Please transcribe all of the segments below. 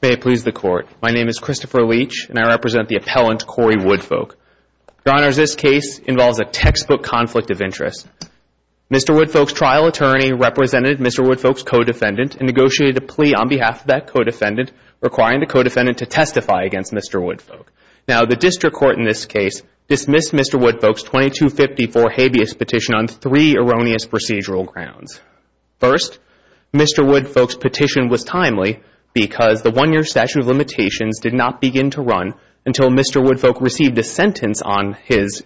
May it please the Court, my name is Christopher Leach and I represent the appellant Cory Woodfolk. Your Honors, this case involves a textbook conflict of interest. Mr. Woodfolk's trial attorney represented Mr. Woodfolk's co-defendant and negotiated a plea on behalf of that co-defendant requiring the co-defendant to testify against Mr. Woodfolk. Now, the district court in this case dismissed Mr. Woodfolk's 2254 habeas petition on three erroneous procedural grounds. First, Mr. Woodfolk's petition was timely because the one-year statute of limitations did not begin to run until Mr. Woodfolk received a sentence on his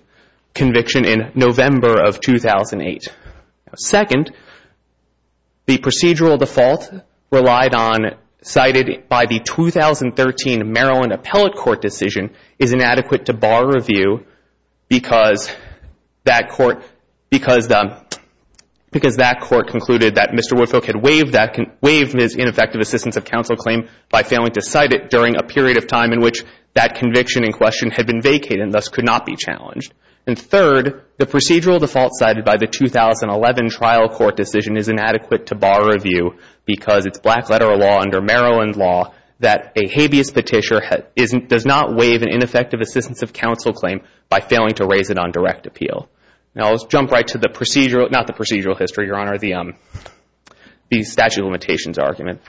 conviction in November of 2008. Second, the procedural default relied on, cited by the 2013 Maryland Appellate Court decision, is inadequate to bar review because that court concluded that Mr. Woodfolk had waived his ineffective assistance of counsel claim by failing to cite it during a period of time in which that conviction in question had been vacated and thus could not be challenged. And third, the procedural default cited by the 2011 trial court decision is inadequate to bar review because it's black-letter law under Maryland law that a habeas petition does not waive an ineffective assistance of counsel claim by failing to raise it on direct appeal. Now, let's jump right to the procedural, not the procedural history, Your Honor, the statute of limitations argument.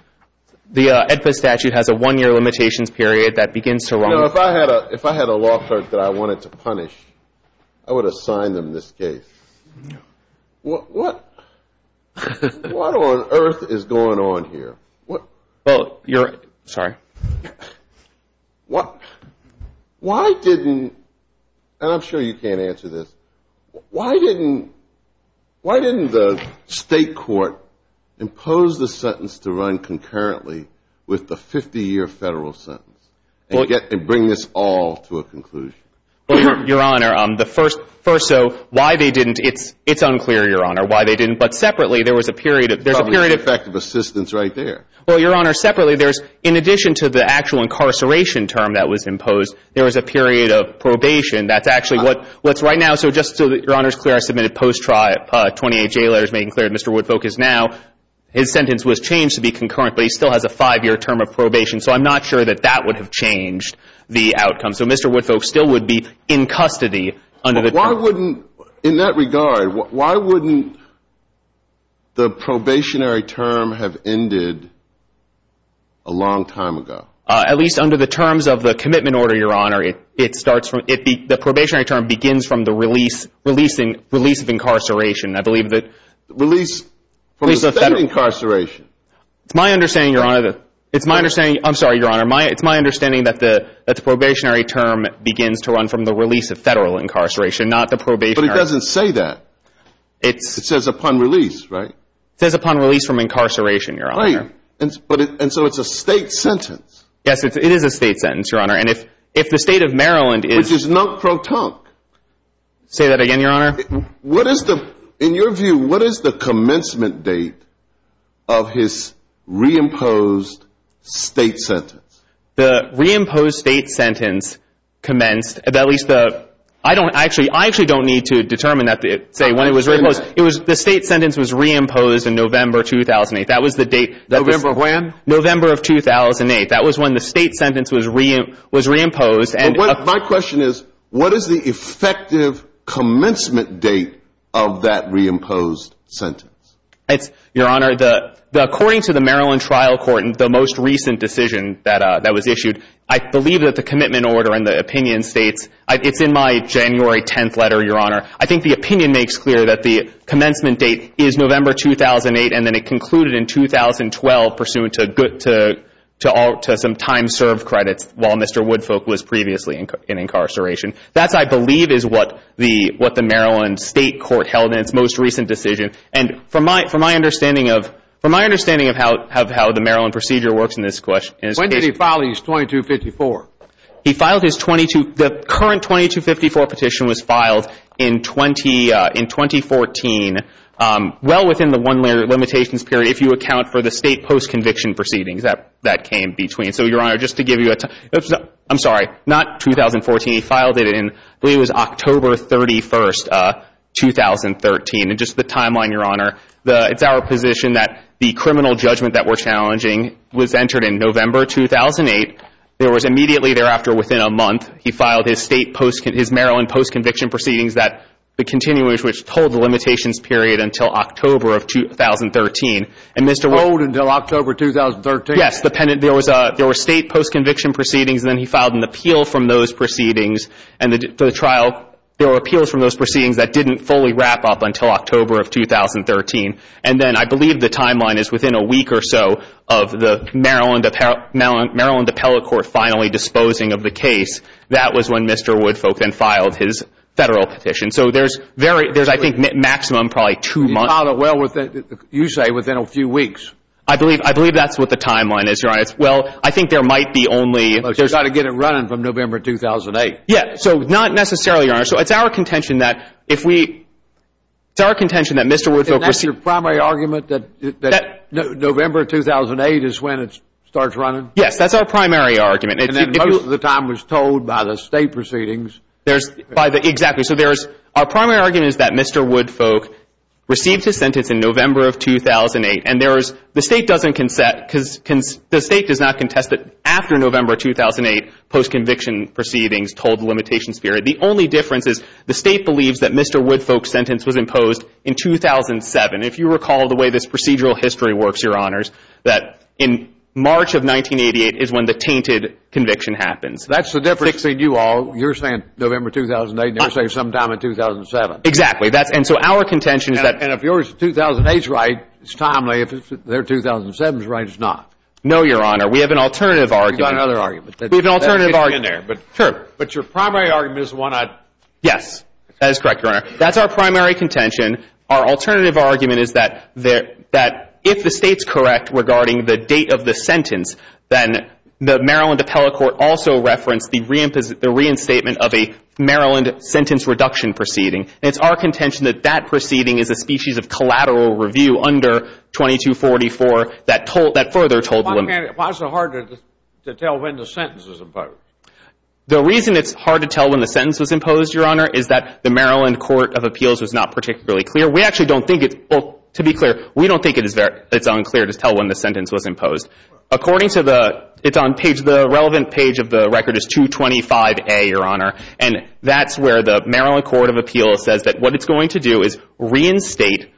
The AEDPA statute has a one-year limitations period that begins to run. You know, if I had a law court that I wanted to punish, I would assign them this case. What on earth is going on here? Well, you're right. Sorry. Why didn't, and I'm sure you can't answer this, why didn't the state court impose the sentence to run concurrently with the 50-year federal sentence and bring this all to a conclusion? Well, Your Honor, the first, so why they didn't, it's unclear, Your Honor, why they didn't. But separately, there was a period of, there's a period of Probably ineffective assistance right there. Well, Your Honor, separately, there's, in addition to the actual incarceration term that was imposed, there was a period of probation. That's actually what's right now. So just so that Your Honor is clear, I submitted post-trial 28 J letters making clear that Mr. Woodfolk is now, his sentence was changed to be concurrent, but he still has a five-year term of probation. So I'm not sure that that would have changed the outcome. So Mr. Woodfolk still would be in custody under the term. But why wouldn't, in that regard, why wouldn't the probationary term have ended a long time ago? At least under the terms of the commitment order, Your Honor. It starts from, the probationary term begins from the release, release of incarceration. I believe that Release from the state incarceration. It's my understanding, Your Honor, it's my understanding, I'm sorry, Your Honor, it's my understanding that the probationary term begins to run from the release of federal incarceration, not the probationary. But it doesn't say that. It says upon release, right? It says upon release from incarceration, Your Honor. Right. And so it's a state sentence. Yes, it is a state sentence, Your Honor. And if the state of Maryland is Which is non-protonc. Say that again, Your Honor. What is the, in your view, what is the commencement date of his reimposed state sentence? The reimposed state sentence commenced, at least the, I don't actually, I actually don't need to determine that, say, when it was reimposed. The state sentence was reimposed in November 2008. That was the date. November of when? November of 2008. That was when the state sentence was reimposed. My question is, what is the effective commencement date of that reimposed sentence? Your Honor, according to the Maryland trial court, the most recent decision that was issued, I believe that the commitment order and the opinion states, it's in my January 10th letter, Your Honor, I think the opinion makes clear that the commencement date is November 2008, and then it concluded in 2012 pursuant to some time served credits while Mr. Woodfolk was previously in incarceration. That, I believe, is what the Maryland state court held in its most recent decision. And from my understanding of how the Maryland procedure works in this case When did he file his 2254? He filed his 22, the current 2254 petition was filed in 2014, well within the one-year limitations period if you account for the state post-conviction proceedings that came between. So, Your Honor, just to give you a, I'm sorry, not 2014. He filed it in, I believe it was October 31st, 2013. And just the timeline, Your Honor, it's our position that the criminal judgment that we're challenging was entered in November 2008. It was immediately thereafter within a month he filed his Maryland post-conviction proceedings that the continuance which told the limitations period until October of 2013. And Mr. Wood... Hold until October 2013? Yes, there were state post-conviction proceedings and then he filed an appeal from those proceedings. And the trial, there were appeals from those proceedings that didn't fully wrap up until October of 2013. And then I believe the timeline is within a week or so of the Maryland appellate court finally disposing of the case. That was when Mr. Woodfolk then filed his federal petition. So there's very, there's I think maximum probably two months. He filed it well within, you say, within a few weeks. I believe that's what the timeline is, Your Honor. Well, I think there might be only... Well, he's got to get it running from November 2008. Yeah, so not necessarily, Your Honor. So it's our contention that if we, it's our contention that Mr. Woodfolk received... Is your primary argument that November 2008 is when it starts running? Yes, that's our primary argument. And most of the time was told by the state proceedings. There's, by the, exactly. So there's, our primary argument is that Mr. Woodfolk received his sentence in November of 2008. And there is, the state doesn't consent because the state does not contest that after November 2008 post-conviction proceedings told the limitations period. The only difference is the state believes that Mr. Woodfolk's sentence was imposed in 2007. If you recall the way this procedural history works, Your Honors, that in March of 1988 is when the tainted conviction happens. That's the difference between you all. You're saying November 2008 and you're saying sometime in 2007. Exactly. That's, and so our contention is that... And if your 2008's right, it's timely. If their 2007's right, it's not. No, Your Honor. We have an alternative argument. You've got another argument. We have an alternative argument. But your primary argument is the one I... Yes. That is correct, Your Honor. That's our primary contention. Our alternative argument is that if the state's correct regarding the date of the sentence, then the Maryland Appellate Court also referenced the reinstatement of a Maryland sentence reduction proceeding. And it's our contention that that proceeding is a species of collateral review under 2244 that further told the limit... Why is it hard to tell when the sentence was imposed? The reason it's hard to tell when the sentence was imposed, Your Honor, is that the Maryland Court of Appeals is not particularly clear. We actually don't think it's, to be clear, we don't think it's unclear to tell when the sentence was imposed. According to the, it's on page, the relevant page of the record is 225A, Your Honor, and that's where the Maryland Court of Appeals says that what it's going to do is reinstate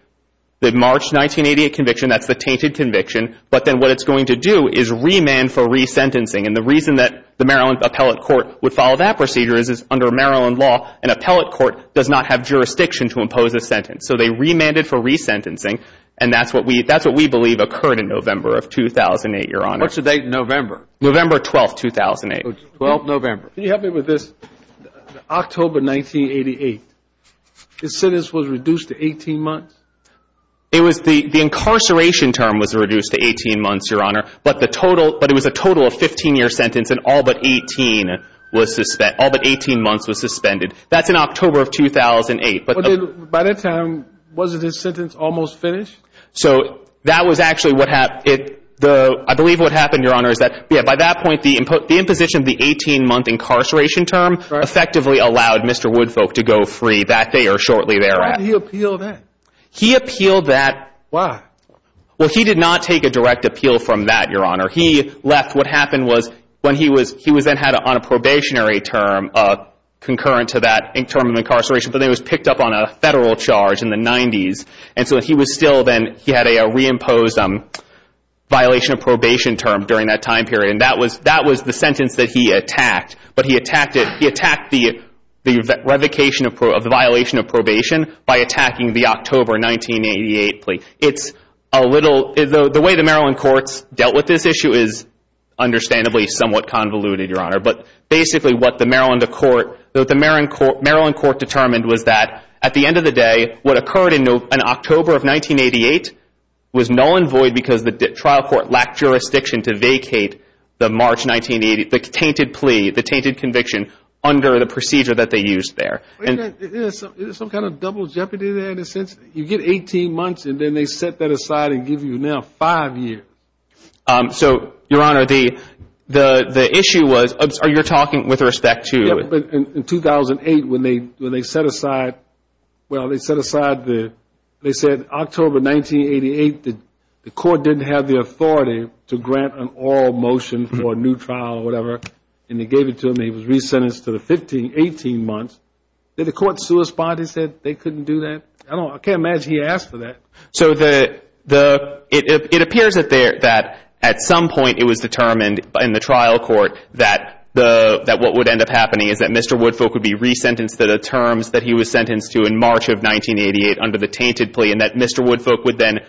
the March 1988 conviction. That's the tainted conviction. But then what it's going to do is remand for resentencing. And the reason that the Maryland Appellate Court would follow that procedure is under Maryland law, an appellate court does not have jurisdiction to impose a sentence. So they remanded for resentencing, and that's what we believe occurred in November of 2008, Your Honor. What's the date in November? November 12, 2008. 12 November. Can you help me with this? October 1988, the sentence was reduced to 18 months? It was, the incarceration term was reduced to 18 months, Your Honor, but the total, but it was a total of 15-year sentence and all but 18 was, all but 18 months was suspended. That's in October of 2008. By that time, wasn't his sentence almost finished? So that was actually what happened. I believe what happened, Your Honor, is that by that point the imposition of the 18-month incarceration term effectively allowed Mr. Woodfolk to go free that day or shortly thereafter. Why did he appeal that? He appealed that. Why? Well, he did not take a direct appeal from that, Your Honor. He left. What happened was when he was, he was then on a probationary term concurrent to that term of incarceration, but then he was picked up on a federal charge in the 90s, and so he was still then, he had a reimposed violation of probation term during that time period, and that was the sentence that he attacked. But he attacked it, he attacked the revocation of the violation of probation by attacking the October 1988 plea. It's a little, the way the Maryland courts dealt with this issue is understandably somewhat convoluted, Your Honor, but basically what the Maryland court determined was that at the end of the day, what occurred in October of 1988 was null and void because the trial court lacked jurisdiction to vacate the March 1980, the tainted plea, the tainted conviction under the procedure that they used there. Isn't there some kind of double jeopardy there in a sense? You get 18 months and then they set that aside and give you now five years. So, Your Honor, the issue was, you're talking with respect to? In 2008 when they set aside, well, they set aside the, they said October 1988, the court didn't have the authority to grant an oral motion for a new trial or whatever, and they gave it to him and he was re-sentenced to the 15, 18 months. Did the court sue his body and say they couldn't do that? I can't imagine he asked for that. So the, it appears that at some point it was determined in the trial court that what would end up happening is that Mr. Woodfolk would be re-sentenced to the terms that he was sentenced to in March of 1988 under the tainted plea and that Mr. Woodfolk would then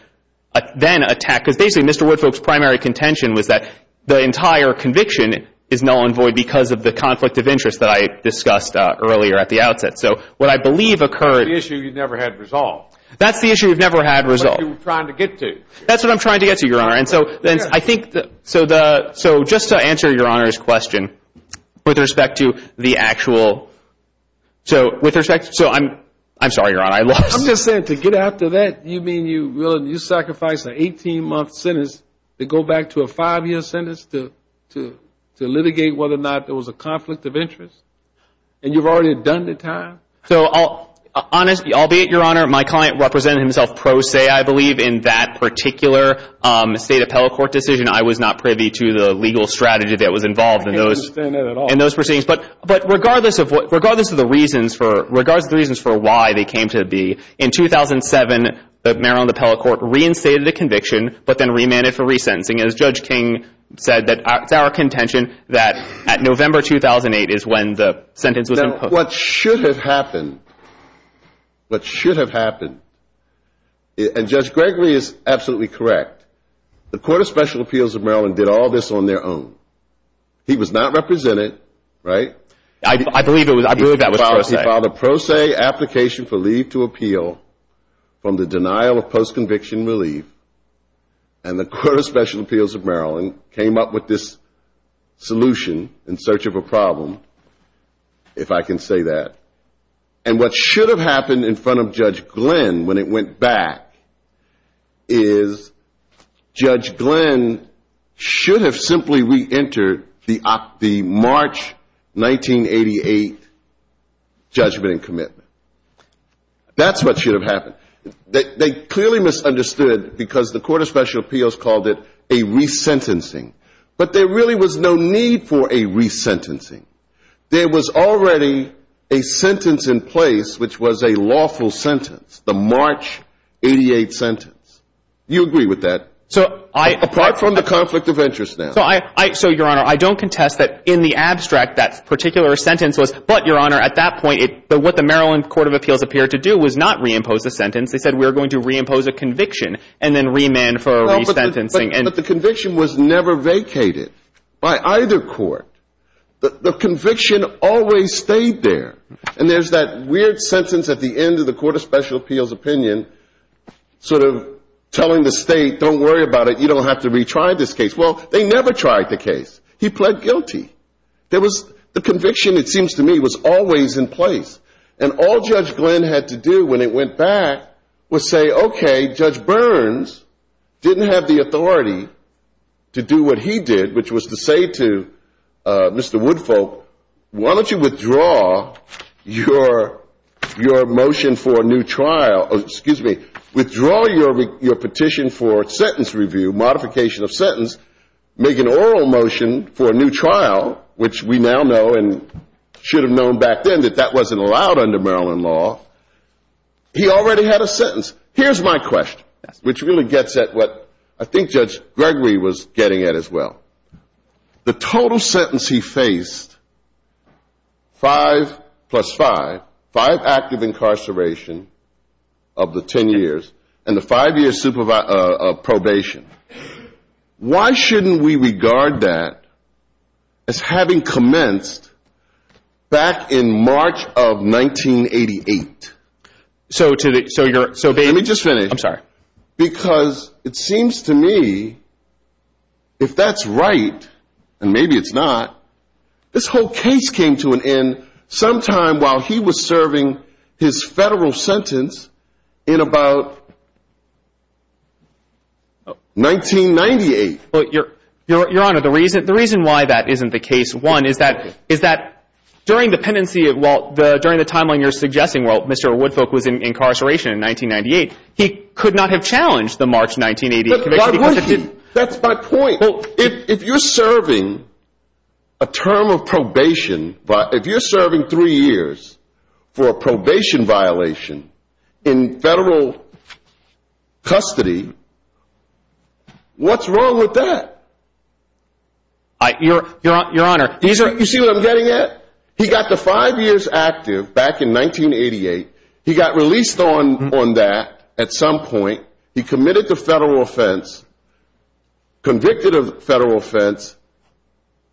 attack, because basically Mr. Woodfolk's primary contention was that the entire conviction is null and void because of the conflict of interest that I discussed earlier at the outset. So what I believe occurred. That's the issue you've never had resolved. That's the issue you've never had resolved. That's what you were trying to get to. That's what I'm trying to get to, Your Honor. And so I think, so just to answer Your Honor's question with respect to the actual, so with respect, so I'm sorry, Your Honor, I lost. I'm just saying to get after that, you mean you sacrificed an 18-month sentence to go back to a five-year sentence to litigate whether or not there was a conflict of interest? And you've already done the time? So, honestly, albeit, Your Honor, my client represented himself pro se, I believe, in that particular State Appellate Court decision. I was not privy to the legal strategy that was involved in those proceedings. I can't understand that at all. But regardless of the reasons for why they came to be, in 2007, Maryland Appellate Court reinstated the conviction but then remanded for resentencing. As Judge King said, it's our contention that at November 2008 is when the sentence was imposed. Now, what should have happened, what should have happened, and Judge Gregory is absolutely correct, the Court of Special Appeals of Maryland did all this on their own. He was not represented, right? I believe that was pro se. He filed a pro se application for leave to appeal from the denial of post-conviction relief, and the Court of Special Appeals of Maryland came up with this solution in search of a problem, if I can say that. And what should have happened in front of Judge Glenn when it went back is Judge Glenn should have simply reentered the March 1988 judgment and commitment. That's what should have happened. They clearly misunderstood because the Court of Special Appeals called it a resentencing. But there really was no need for a resentencing. There was already a sentence in place which was a lawful sentence, the March 1988 sentence. You agree with that? Apart from the conflict of interest now. So, Your Honor, I don't contest that in the abstract that particular sentence was, but, Your Honor, at that point what the Maryland Court of Appeals appeared to do was not reimpose the sentence. They said we were going to reimpose a conviction and then remand for resentencing. But the conviction was never vacated by either court. The conviction always stayed there. And there's that weird sentence at the end of the Court of Special Appeals opinion sort of telling the state, don't worry about it, you don't have to retry this case. Well, they never tried the case. He pled guilty. The conviction, it seems to me, was always in place. And all Judge Glenn had to do when it went back was say, okay, Judge Burns didn't have the authority to do what he did, which was to say to Mr. Woodfolk, why don't you withdraw your motion for a new trial, excuse me, withdraw your petition for sentence review, modification of sentence, make an oral motion for a new trial, which we now know and should have known back then that that wasn't allowed under Maryland law. He already had a sentence. Here's my question, which really gets at what I think Judge Gregory was getting at as well. The total sentence he faced, five plus five, five active incarceration of the ten years and the five-year probation. Why shouldn't we regard that as having commenced back in March of 1988? Let me just finish. I'm sorry. Because it seems to me if that's right, and maybe it's not, this whole case came to an end sometime while he was serving his federal sentence in about 1998. Your Honor, the reason why that isn't the case, one, is that during the pendency, well, during the timeline you're suggesting, well, Mr. Woodfolk was in incarceration in 1998. He could not have challenged the March 1988 conviction. That's my point. If you're serving a term of probation, if you're serving three years for a probation violation in federal custody, what's wrong with that? Your Honor, these are – You see what I'm getting at? He got the five years active back in 1988. He got released on that at some point. He committed the federal offense, convicted of federal offense,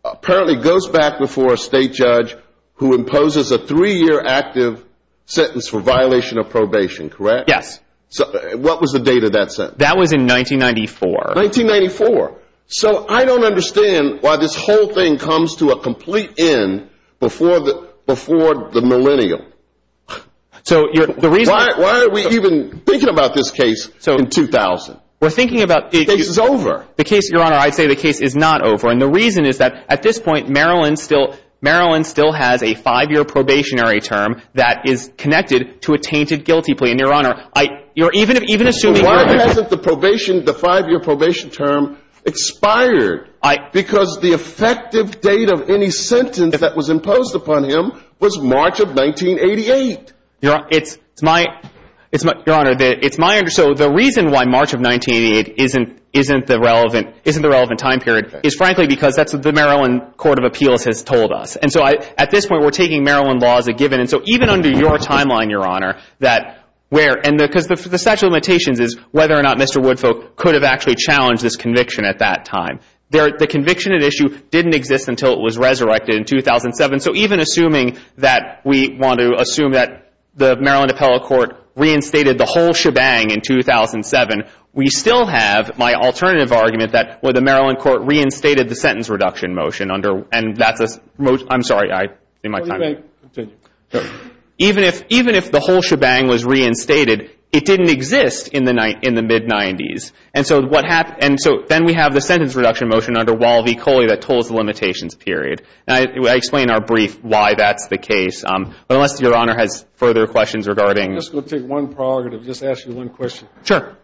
apparently goes back before a state judge who imposes a three-year active sentence for violation of probation, correct? Yes. What was the date of that sentence? That was in 1994. 1994. So I don't understand why this whole thing comes to a complete end before the millennial. So the reason – Why are we even thinking about this case in 2000? We're thinking about – The case is over. Your Honor, I'd say the case is not over, and the reason is that at this point, Maryland still has a five-year probationary term that is connected to a tainted guilty plea. And, Your Honor, even assuming – Why hasn't the probation – the five-year probation term expired? Because the effective date of any sentence that was imposed upon him was March of 1988. Your Honor, it's my – Your Honor, it's my – So the reason why March of 1988 isn't the relevant time period is, frankly, because that's what the Maryland Court of Appeals has told us. And so at this point, we're taking Maryland law as a given. And so even under your timeline, Your Honor, that where – Because the statute of limitations is whether or not Mr. Woodfolk could have actually challenged this conviction at that time. The conviction at issue didn't exist until it was resurrected in 2007. So even assuming that we want to assume that the Maryland appellate court reinstated the whole shebang in 2007, we still have my alternative argument that the Maryland court reinstated the sentence reduction motion under – And that's a – I'm sorry, I'm in my time. Even if – even if the whole shebang was reinstated, it didn't exist in the mid-'90s. And so what happened – and so then we have the sentence reduction motion under Wall v. Coley that told us the limitations period. And I explained in our brief why that's the case. But unless Your Honor has further questions regarding – I'm just going to take one prerogative, just ask you one question. Sure.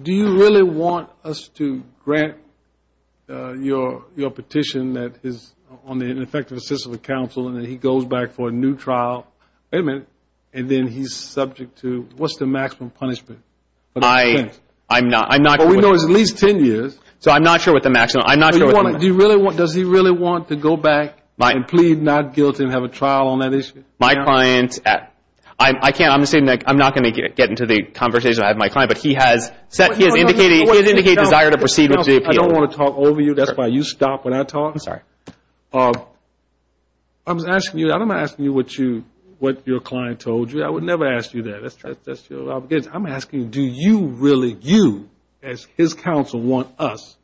Do you really want us to grant your petition that is on the ineffective assistance of the counsel and then he goes back for a new trial? Wait a minute. And then he's subject to – what's the maximum punishment for the defense? I'm not – I'm not – Well, we know it's at least 10 years. So I'm not sure what the maximum – I'm not sure what the – Do you really want – does he really want to go back and plead not guilty and have a trial on that issue? My client – I can't – I'm just saying, Nick, I'm not going to get into the conversation. I have my client, but he has set – he has indicated desire to proceed with the appeal. I don't want to talk over you. That's why you stop when I talk. I'm sorry. I was asking you – I'm asking you what you – what your client told you. I would never ask you that. That's true. I'm asking do you really – you as his counsel want us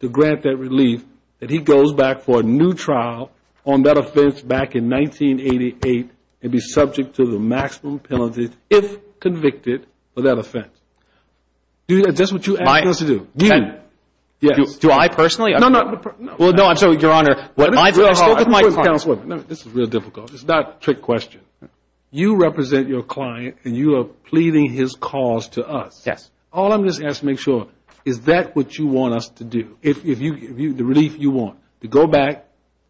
to grant that relief that he goes back for a new trial on that offense back in 1988 and be subject to the maximum penalty if convicted for that offense? Is that what you're asking us to do? Yes. Do I personally? No, no. Well, no, I'm sorry, Your Honor. I spoke with my client. This is real difficult. It's not a trick question. You represent your client and you are pleading his cause to us. Yes. All I'm just asking is to make sure, is that what you want us to do? The relief you want, to go back,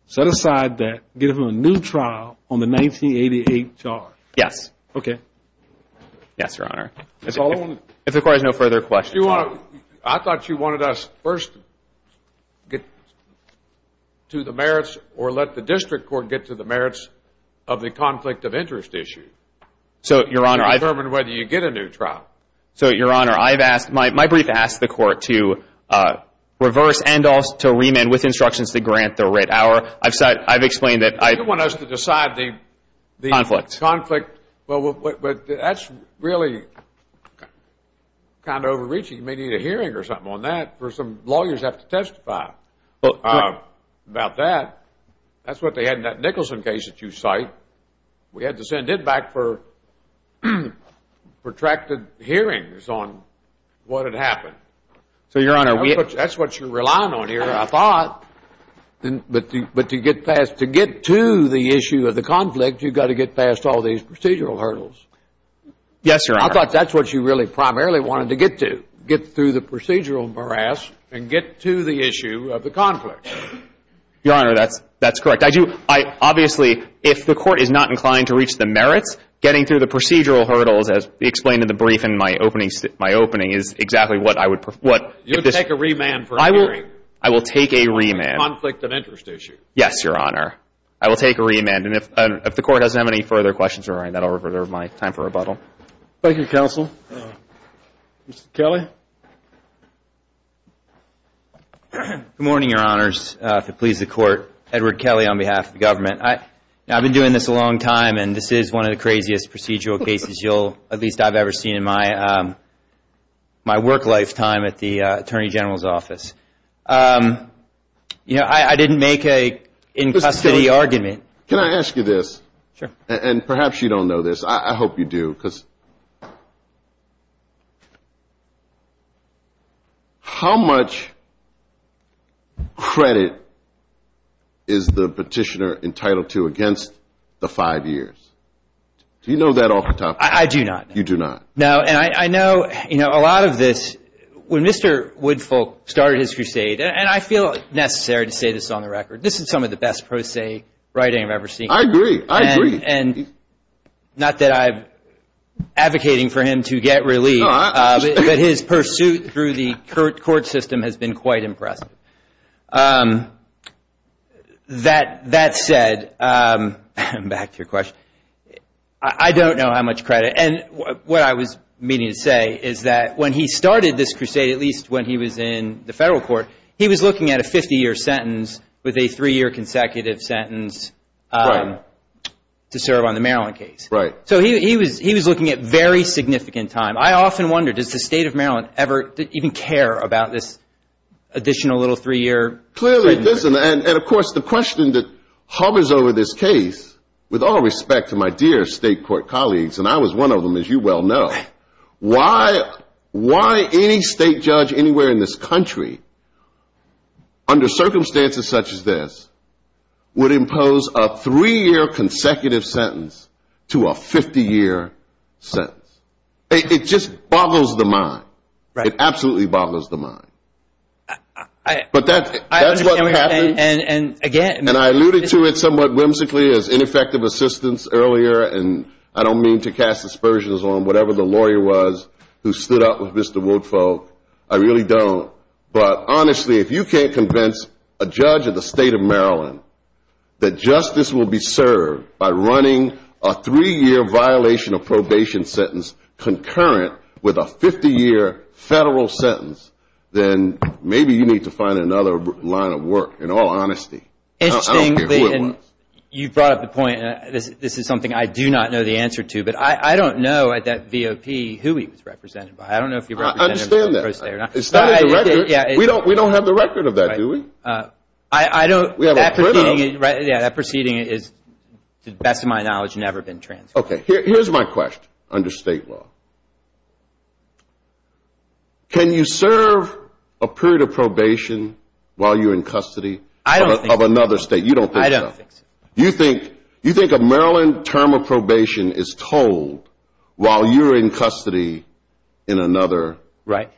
set aside that, give him a new trial on the 1988 charge? Yes. Okay. Yes, Your Honor. If it requires no further questions. I thought you wanted us first to get to the merits or let the district court get to the merits of the conflict of interest issue. So, Your Honor, I've – To determine whether you get a new trial. So, Your Honor, I've asked – my brief asked the court to reverse and to remand with instructions to grant the writ hour. I've explained that I – You want us to decide the – Conflict. Conflict. Well, that's really kind of overreaching. You may need a hearing or something on that where some lawyers have to testify about that. That's what they had in that Nicholson case that you cite. We had to send it back for protracted hearings on what had happened. So, Your Honor, we – That's what you're relying on here, I thought. But to get past – to get to the issue of the conflict, you've got to get past all these procedural hurdles. Yes, Your Honor. I thought that's what you really primarily wanted to get to, get through the procedural morass and get to the issue of the conflict. Your Honor, that's correct. I do – obviously, if the court is not inclined to reach the merits, getting through the procedural hurdles, as explained in the brief in my opening, is exactly what I would – You would take a remand for a hearing. I will take a remand. Conflict of interest issue. Yes, Your Honor. I will take a remand. And if the court doesn't have any further questions, Your Honor, that will reserve my time for rebuttal. Thank you, counsel. Mr. Kelly. Good morning, Your Honors. If it pleases the court, Edward Kelly on behalf of the government. I've been doing this a long time, and this is one of the craziest procedural cases you'll – at least I've ever seen in my work lifetime at the Attorney General's office. You know, I didn't make an in-custody argument. Can I ask you this? Sure. And perhaps you don't know this. I hope you do. Because how much credit is the petitioner entitled to against the five years? Do you know that off the top of your head? I do not. You do not. No, and I know, you know, a lot of this – when Mr. Woodfolk started his crusade, and I feel necessary to say this on the record, this is some of the best crusade writing I've ever seen. I agree. I agree. And not that I'm advocating for him to get relief, but his pursuit through the court system has been quite impressive. That said, back to your question, I don't know how much credit – and what I was meaning to say is that when he started this crusade, at least when he was in the federal court, he was looking at a 50-year sentence with a three-year consecutive sentence to serve on the Maryland case. Right. So he was looking at very significant time. I often wonder, does the state of Maryland ever even care about this additional little three-year? Clearly it doesn't. And, of course, the question that hovers over this case, with all respect to my dear state court colleagues, and I was one of them, as you well know, why any state judge anywhere in this country, under circumstances such as this, would impose a three-year consecutive sentence to a 50-year sentence? It just boggles the mind. Right. It absolutely boggles the mind. But that's what happened. And, again – And I alluded to it somewhat whimsically as ineffective assistance earlier, and I don't mean to cast aspersions on whatever the lawyer was who stood up with Mr. Woodfolk. I really don't. But, honestly, if you can't convince a judge of the state of Maryland that justice will be served by running a three-year violation of probation sentence concurrent with a 50-year federal sentence, then maybe you need to find another line of work, in all honesty. I don't care who it was. You brought up the point, and this is something I do not know the answer to, but I don't know at that VOP who he was represented by. I don't know if he represented himself. I understand that. It's not in the record. We don't have the record of that, do we? I don't. That proceeding is, to the best of my knowledge, never been transferred. Okay. Here's my question, under state law. Can you serve a period of probation while you're in custody of another state? You don't think so. I don't think so. You think a Maryland term of probation is told while you're in custody in another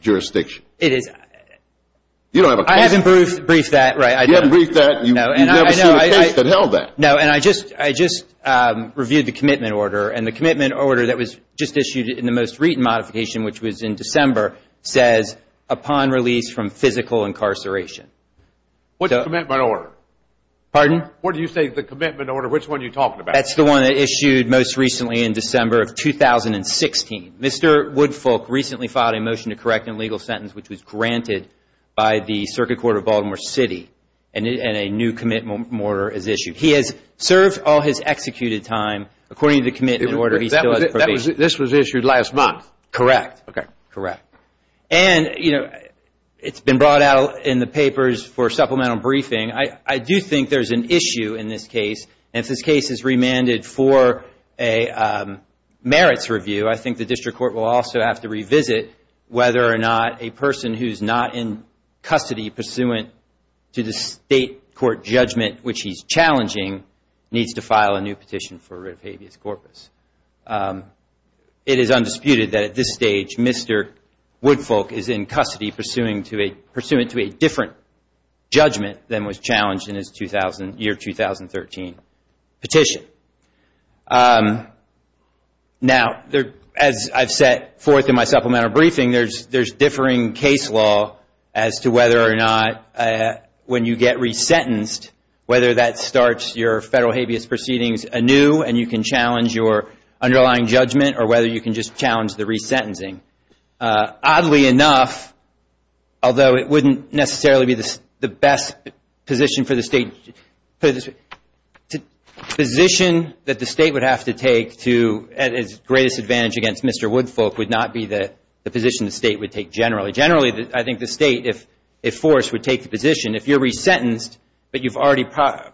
jurisdiction? Right. It is. I haven't briefed that. You haven't briefed that. You've never seen a case that held that. No, and I just reviewed the commitment order, and the commitment order that was just issued in the most recent modification, which was in December, says, upon release from physical incarceration. What's the commitment order? Pardon? What do you say is the commitment order? Which one are you talking about? That's the one that issued most recently in December of 2016. Mr. Woodfolk recently filed a motion to correct an illegal sentence, which was granted by the Circuit Court of Baltimore City, and a new commitment order is issued. He has served all his executed time according to the commitment order. This was issued last month? Correct. Okay. Correct. And, you know, it's been brought out in the papers for supplemental briefing. I do think there's an issue in this case, and if this case is remanded for a merits review, I think the district court will also have to revisit whether or not a person who's not in custody pursuant to the state court judgment, which he's challenging, needs to file a new petition for writ of habeas corpus. It is undisputed that at this stage Mr. Woodfolk is in custody pursuant to a different judgment than was challenged in his year 2013 petition. Now, as I've set forth in my supplemental briefing, there's differing case law as to whether or not when you get resentenced, whether that starts your federal habeas proceedings anew and you can challenge your underlying judgment or whether you can just challenge the resentencing. Oddly enough, although it wouldn't necessarily be the best position for the state, the position that the state would have to take to its greatest advantage against Mr. Woodfolk would not be the position the state would take generally. Generally, I think the state, if forced, would take the position if you're resentenced but you've already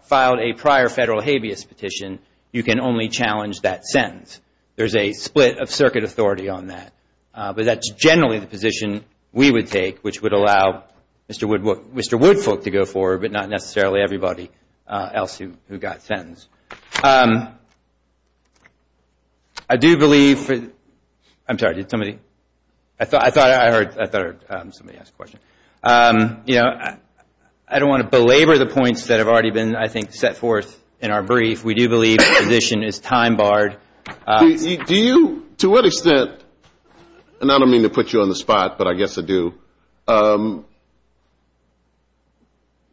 filed a prior federal habeas petition, you can only challenge that sentence. There's a split of circuit authority on that. But that's generally the position we would take, which would allow Mr. Woodfolk to go forward, but not necessarily everybody else who got sentenced. I do believe, I'm sorry, did somebody, I thought I heard somebody ask a question. You know, I don't want to belabor the points that have already been, I think, set forth in our brief. We do believe the position is time barred. Do you, to what extent, and I don't mean to put you on the spot, but I guess I do,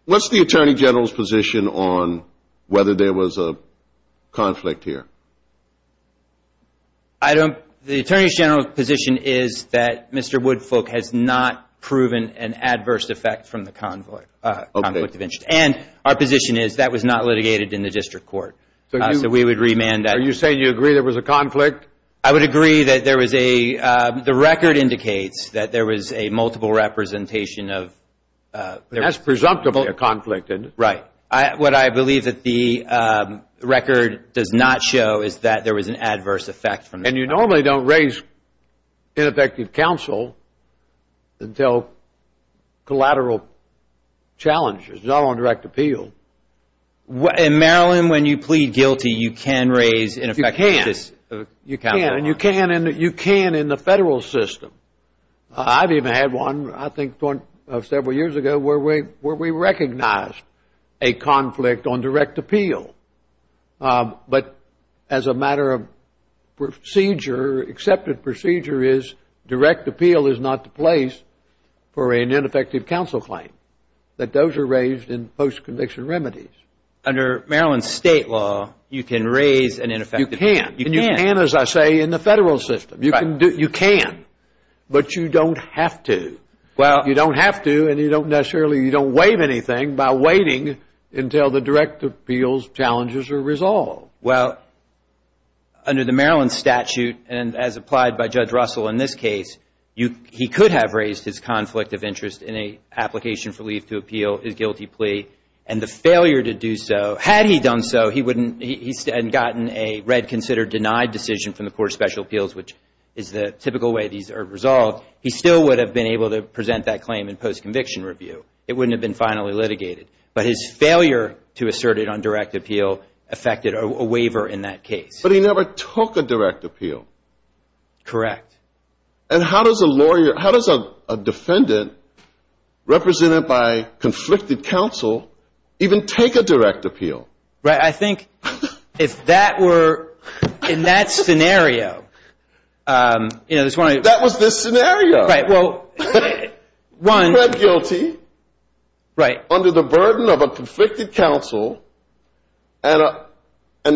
what's the Attorney General's position on whether there was a conflict here? The Attorney General's position is that Mr. Woodfolk has not proven an adverse effect from the convoy, and our position is that was not litigated in the district court. So we would remand that. Are you saying you agree there was a conflict? I would agree that there was a, the record indicates that there was a multiple representation of. That's presumptive of a conflict. Right. What I believe that the record does not show is that there was an adverse effect. And you normally don't raise ineffective counsel until collateral challenges, not on direct appeal. In Maryland, when you plead guilty, you can raise ineffective counsel. You can, and you can in the federal system. I've even had one, I think, several years ago where we recognized a conflict on direct appeal. But as a matter of procedure, accepted procedure is direct appeal is not the place for an ineffective counsel claim, that those are raised in post-conviction remedies. Under Maryland state law, you can raise an ineffective counsel. You can, and you can, as I say, in the federal system. You can, but you don't have to. You don't have to, and you don't necessarily, you don't waive anything by waiting until the direct appeal's challenges are resolved. Well, under the Maryland statute, and as applied by Judge Russell in this case, he could have raised his conflict of interest in an application for leave to appeal his guilty plea, and the failure to do so, had he done so, he wouldn't, he hadn't gotten a read, considered, denied decision from the Court of Special Appeals, which is the typical way these are resolved. He still would have been able to present that claim in post-conviction review. It wouldn't have been finally litigated. But his failure to assert it on direct appeal affected a waiver in that case. But he never took a direct appeal. Correct. And how does a lawyer, how does a defendant represented by conflicted counsel even take a direct appeal? Right. I think if that were, in that scenario, you know, there's one of these. That was this scenario. Right. Well, one. He pled guilty. Right. Under the burden of a conflicted counsel, and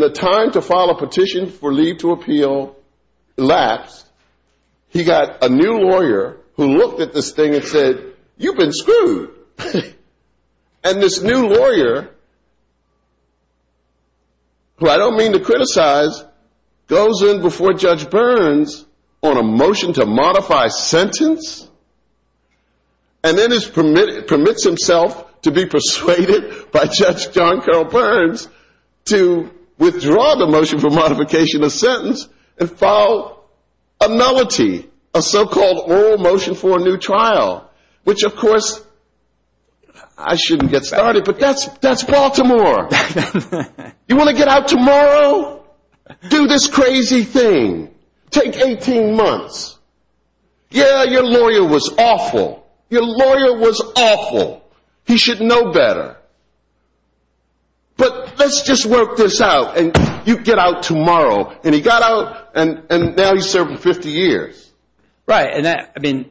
the time to file a petition for leave to appeal elapsed, he got a new lawyer who looked at this thing and said, you've been screwed. And this new lawyer, who I don't mean to criticize, goes in before Judge Burns on a motion to modify sentence, and then permits himself to be persuaded by Judge John Carroll Burns to withdraw the motion for modification of sentence and file a melody, a so-called oral motion for a new trial. Which, of course, I shouldn't get started, but that's Baltimore. You want to get out tomorrow? Do this crazy thing. Take 18 months. Yeah, your lawyer was awful. Your lawyer was awful. He should know better. But let's just work this out. And you get out tomorrow. And he got out, and now he's serving 50 years. Right.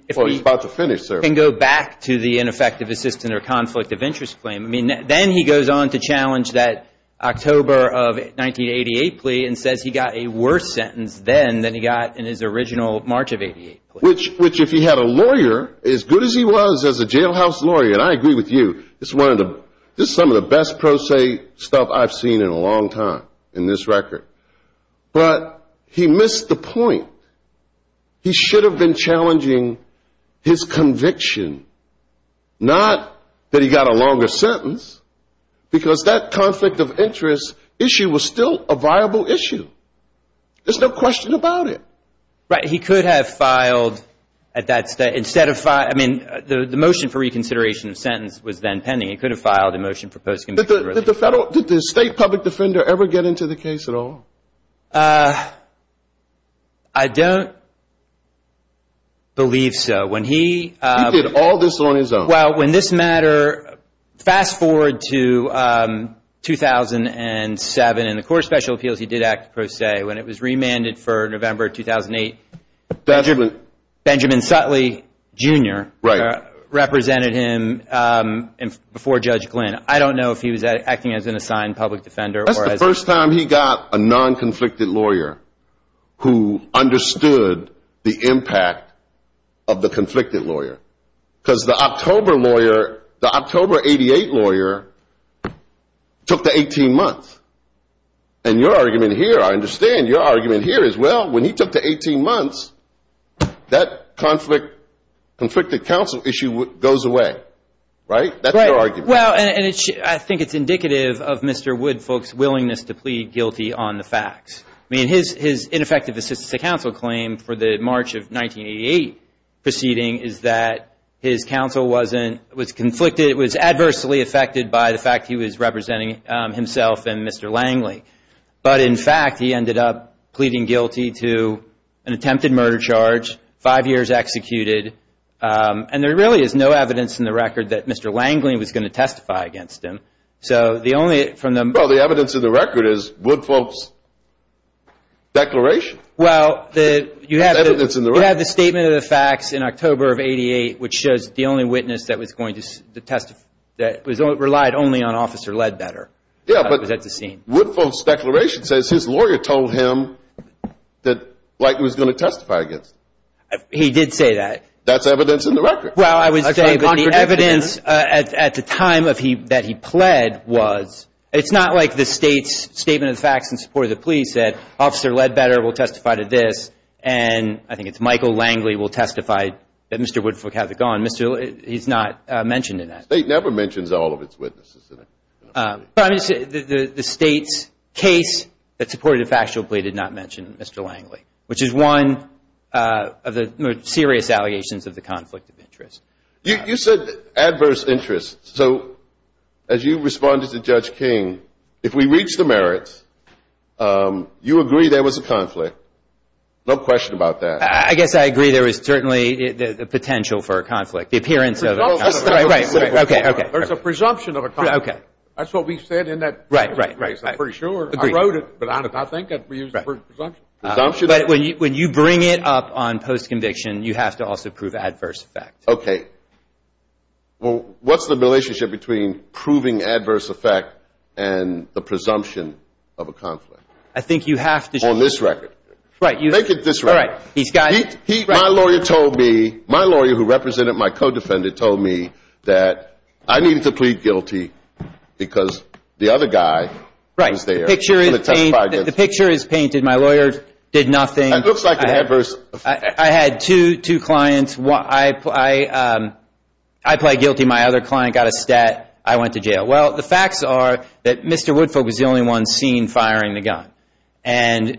Before he's about to finish serving. And go back to the ineffective assistant or conflict of interest claim. Then he goes on to challenge that October of 1988 plea and says he got a worse sentence then than he got in his original March of 1988 plea. Which, if he had a lawyer as good as he was as a jailhouse lawyer, and I agree with you, this is some of the best pro se stuff I've seen in a long time in this record. But he missed the point. He should have been challenging his conviction, not that he got a longer sentence, because that conflict of interest issue was still a viable issue. There's no question about it. Right. He could have filed at that state. I mean, the motion for reconsideration of sentence was then pending. He could have filed a motion for post-conviction. Did the state public defender ever get into the case at all? I don't believe so. He did all this on his own. Well, when this matter, fast forward to 2007 in the court of special appeals, he did act pro se. When it was remanded for November 2008, Benjamin Sutley, Jr. Right. Represented him before Judge Glynn. I don't know if he was acting as an assigned public defender. That's the first time he got a non-conflicted lawyer who understood the impact of the conflicted lawyer. Because the October lawyer, the October 88 lawyer, took the 18 months. And your argument here, I understand, your argument here is, well, when he took the 18 months, that conflicted counsel issue goes away. Right? That's your argument. Well, and I think it's indicative of Mr. Woodfolk's willingness to plead guilty on the facts. I mean, his ineffective assistance to counsel claim for the March of 1988 proceeding is that his counsel wasn't, was conflicted, was adversely affected by the fact he was representing himself and Mr. Langley. But, in fact, he ended up pleading guilty to an attempted murder charge, five years executed. And there really is no evidence in the record that Mr. Langley was going to testify against him. Well, the evidence in the record is Woodfolk's declaration. Well, you have the statement of the facts in October of 88, which shows the only witness that relied only on Officer Ledbetter. Yeah, but Woodfolk's declaration says his lawyer told him that Langley was going to testify against him. He did say that. That's evidence in the record. Well, I would say that the evidence at the time that he pled was, it's not like the State's statement of the facts in support of the police said Officer Ledbetter will testify to this and I think it's Michael Langley will testify that Mr. Woodfolk hasn't gone. He's not mentioned in that. The State never mentions all of its witnesses. The State's case that supported a factual plea did not mention Mr. Langley, which is one of the serious allegations of the conflict of interest. You said adverse interest. So as you responded to Judge King, if we reach the merits, you agree there was a conflict. No question about that. I guess I agree there was certainly the potential for a conflict. The appearance of a conflict. There's a presumption of a conflict. That's what we said in that case. I'm pretty sure. I wrote it, but I think we used the word presumption. But when you bring it up on post-conviction, you have to also prove adverse effect. Okay. Well, what's the relationship between proving adverse effect and the presumption of a conflict? I think you have to. On this record. Right. Make it this record. My lawyer told me, my lawyer who represented my co-defendant told me that I needed to plead guilty because the other guy was there. Right. The picture is painted. My lawyer did nothing. It looks like an adverse effect. I had two clients. I pled guilty. My other client got a stat. I went to jail. Well, the facts are that Mr. Woodfolk was the only one seen firing the gun. And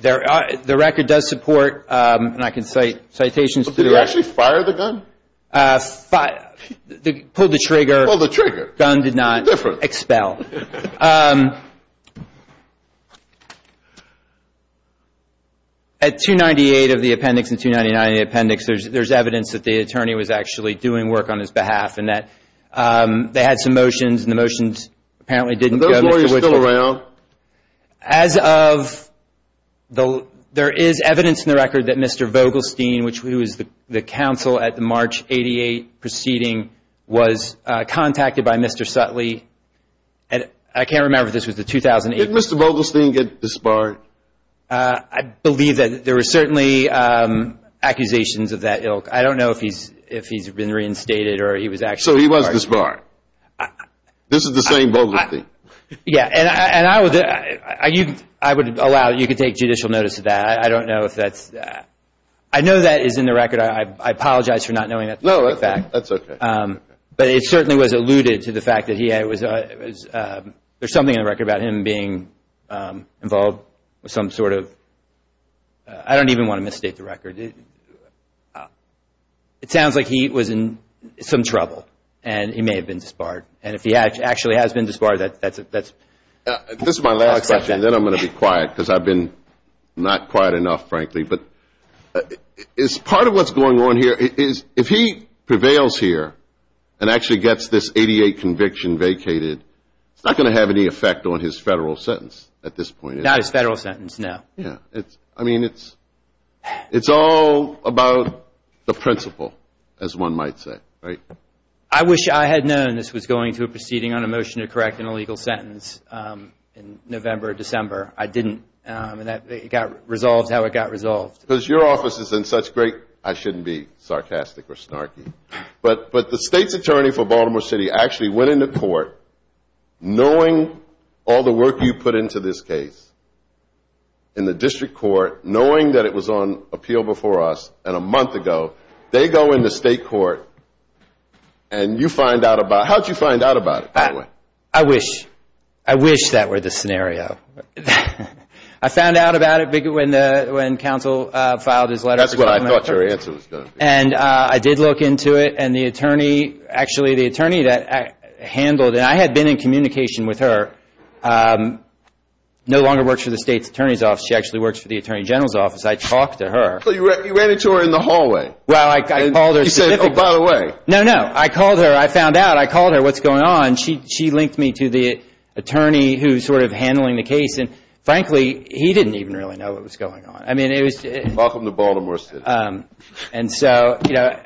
the record does support, and I can cite citations. Did he actually fire the gun? Pulled the trigger. Pulled the trigger. Gun did not expel. Gun did not expel. At 298 of the appendix and 299 of the appendix, there's evidence that the attorney was actually doing work on his behalf and that they had some motions and the motions apparently didn't go to Mr. Woodfolk. Are those lawyers still around? As of the, there is evidence in the record that Mr. Vogelstein, who is the counsel at the March 88 proceeding, was contacted by Mr. Sutley. And I can't remember if this was the 2008. Did Mr. Vogelstein get disbarred? I believe that there were certainly accusations of that ilk. I don't know if he's been reinstated or he was actually disbarred. So he was disbarred. This is the same Vogelstein. Yeah, and I would allow, you could take judicial notice of that. I don't know if that's. I know that is in the record. I apologize for not knowing that. No, that's okay. But it certainly was alluded to the fact that he was. There's something in the record about him being involved with some sort of. I don't even want to misstate the record. It sounds like he was in some trouble and he may have been disbarred. And if he actually has been disbarred, that's. This is my last question. Then I'm going to be quiet because I've been not quiet enough, frankly. But part of what's going on here is if he prevails here and actually gets this 88 conviction vacated, it's not going to have any effect on his federal sentence at this point. Not his federal sentence, no. I mean, it's all about the principle, as one might say, right? I wish I had known this was going to a proceeding on a motion to correct an illegal sentence in November or December. I didn't. It got resolved how it got resolved. Because your office is in such great. I shouldn't be sarcastic or snarky. But the state's attorney for Baltimore City actually went into court, knowing all the work you put into this case in the district court, knowing that it was on appeal before us and a month ago, they go in the state court and you find out about it. How did you find out about it, by the way? I wish. I wish that were the scenario. I found out about it when counsel filed his letter. That's what I thought your answer was going to be. And I did look into it, and the attorney that handled it, and I had been in communication with her, no longer works for the state's attorney's office. She actually works for the attorney general's office. I talked to her. So you ran into her in the hallway. Well, I called her. You said, oh, by the way. No, no. I called her. I found out. I called her. What's going on? She linked me to the attorney who's sort of handling the case. And, frankly, he didn't even really know what was going on. Welcome to Baltimore City. And so, you know,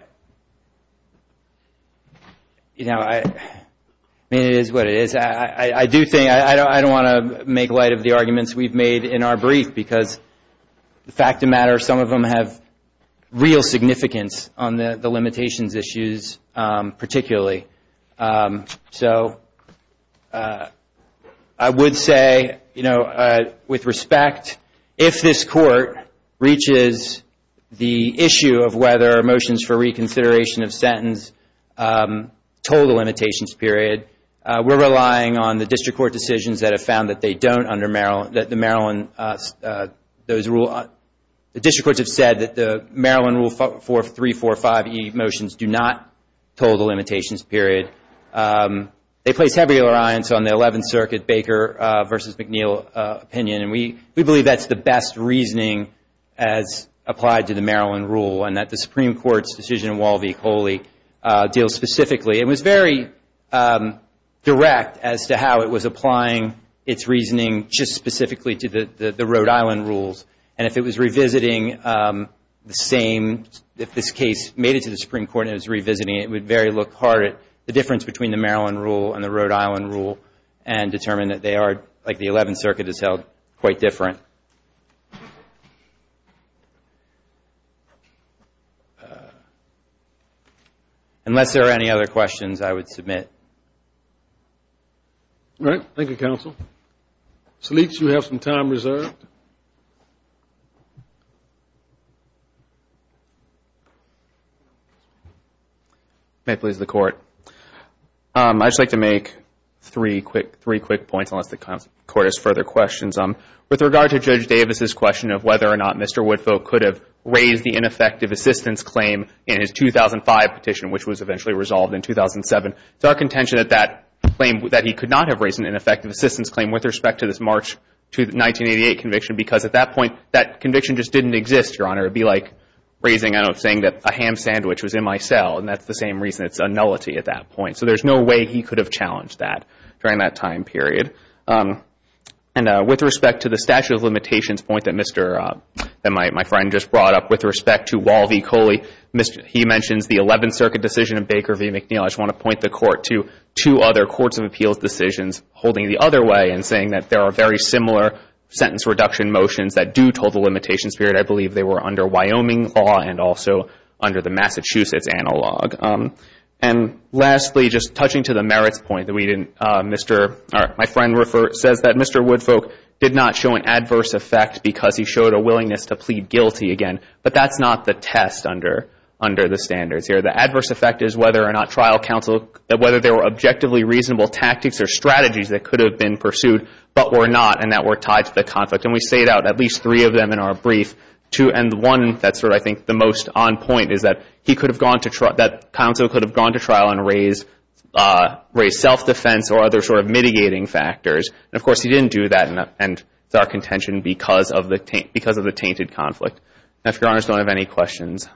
I mean, it is what it is. I do think I don't want to make light of the arguments we've made in our brief because, fact of the matter, some of them have real significance on the limitations issues particularly. So I would say, you know, with respect, if this court reaches the issue of whether motions for reconsideration of sentence total limitations period, we're relying on the district court decisions that have found that they don't under Maryland, that the Maryland, those rule. The district courts have said that the Maryland rule 4345E motions do not total limitations period. They place heavy reliance on the 11th Circuit Baker versus McNeil opinion. And we believe that's the best reasoning as applied to the Maryland rule and that the Supreme Court's decision in Wall v. Coley deals specifically. It was very direct as to how it was applying its reasoning just specifically to the Rhode Island rules. And if it was revisiting the same, if this case made it to the Supreme Court and it was revisiting it, it would very look hard at the difference between the Maryland rule and the Rhode Island rule and determine that they are, like the 11th Circuit has held, quite different. Thank you. Unless there are any other questions, I would submit. All right. Thank you, counsel. Solic, you have some time reserved. May it please the court. I'd just like to make three quick points unless the court has further questions. With regard to Judge Davis' question of whether or not Mr. Woodfolk could have raised the ineffective assistance claim in his 2005 petition, which was eventually resolved in 2007, it's our contention that that claim, that he could not have raised an ineffective assistance claim with respect to this March 1988 conviction because at that point that conviction just didn't exist, Your Honor. It would be like raising, I don't know, saying that a ham sandwich was in my cell. And that's the same reason. It's a nullity at that point. So there's no way he could have challenged that during that time period. And with respect to the statute of limitations point that my friend just brought up, with respect to Wall v. Coley, he mentions the 11th Circuit decision of Baker v. McNeil. I just want to point the court to two other courts of appeals decisions holding it the other way and saying that there are very similar sentence reduction motions that do total limitations period. I believe they were under Wyoming law and also under the Massachusetts analog. And lastly, just touching to the merits point, my friend says that Mr. Woodfolk did not show an adverse effect because he showed a willingness to plead guilty again. But that's not the test under the standards here. The adverse effect is whether or not trial counsel, whether there were objectively reasonable tactics or strategies that could have been pursued but were not and that were tied to the conflict. And we state out at least three of them in our brief. Two and one that's sort of I think the most on point is that he could have gone to trial, that counsel could have gone to trial and raised self-defense or other sort of mitigating factors. And of course he didn't do that and it's our contention because of the tainted conflict. And if your honors don't have any questions,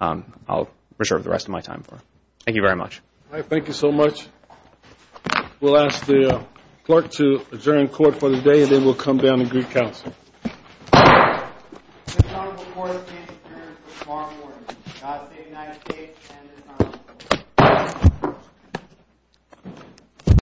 I'll reserve the rest of my time for it. Thank you very much. Thank you so much. We'll ask the clerk to adjourn court for the day and then we'll come down and greet counsel. This court is adjourned for tomorrow morning. God save the United States and this honorable court.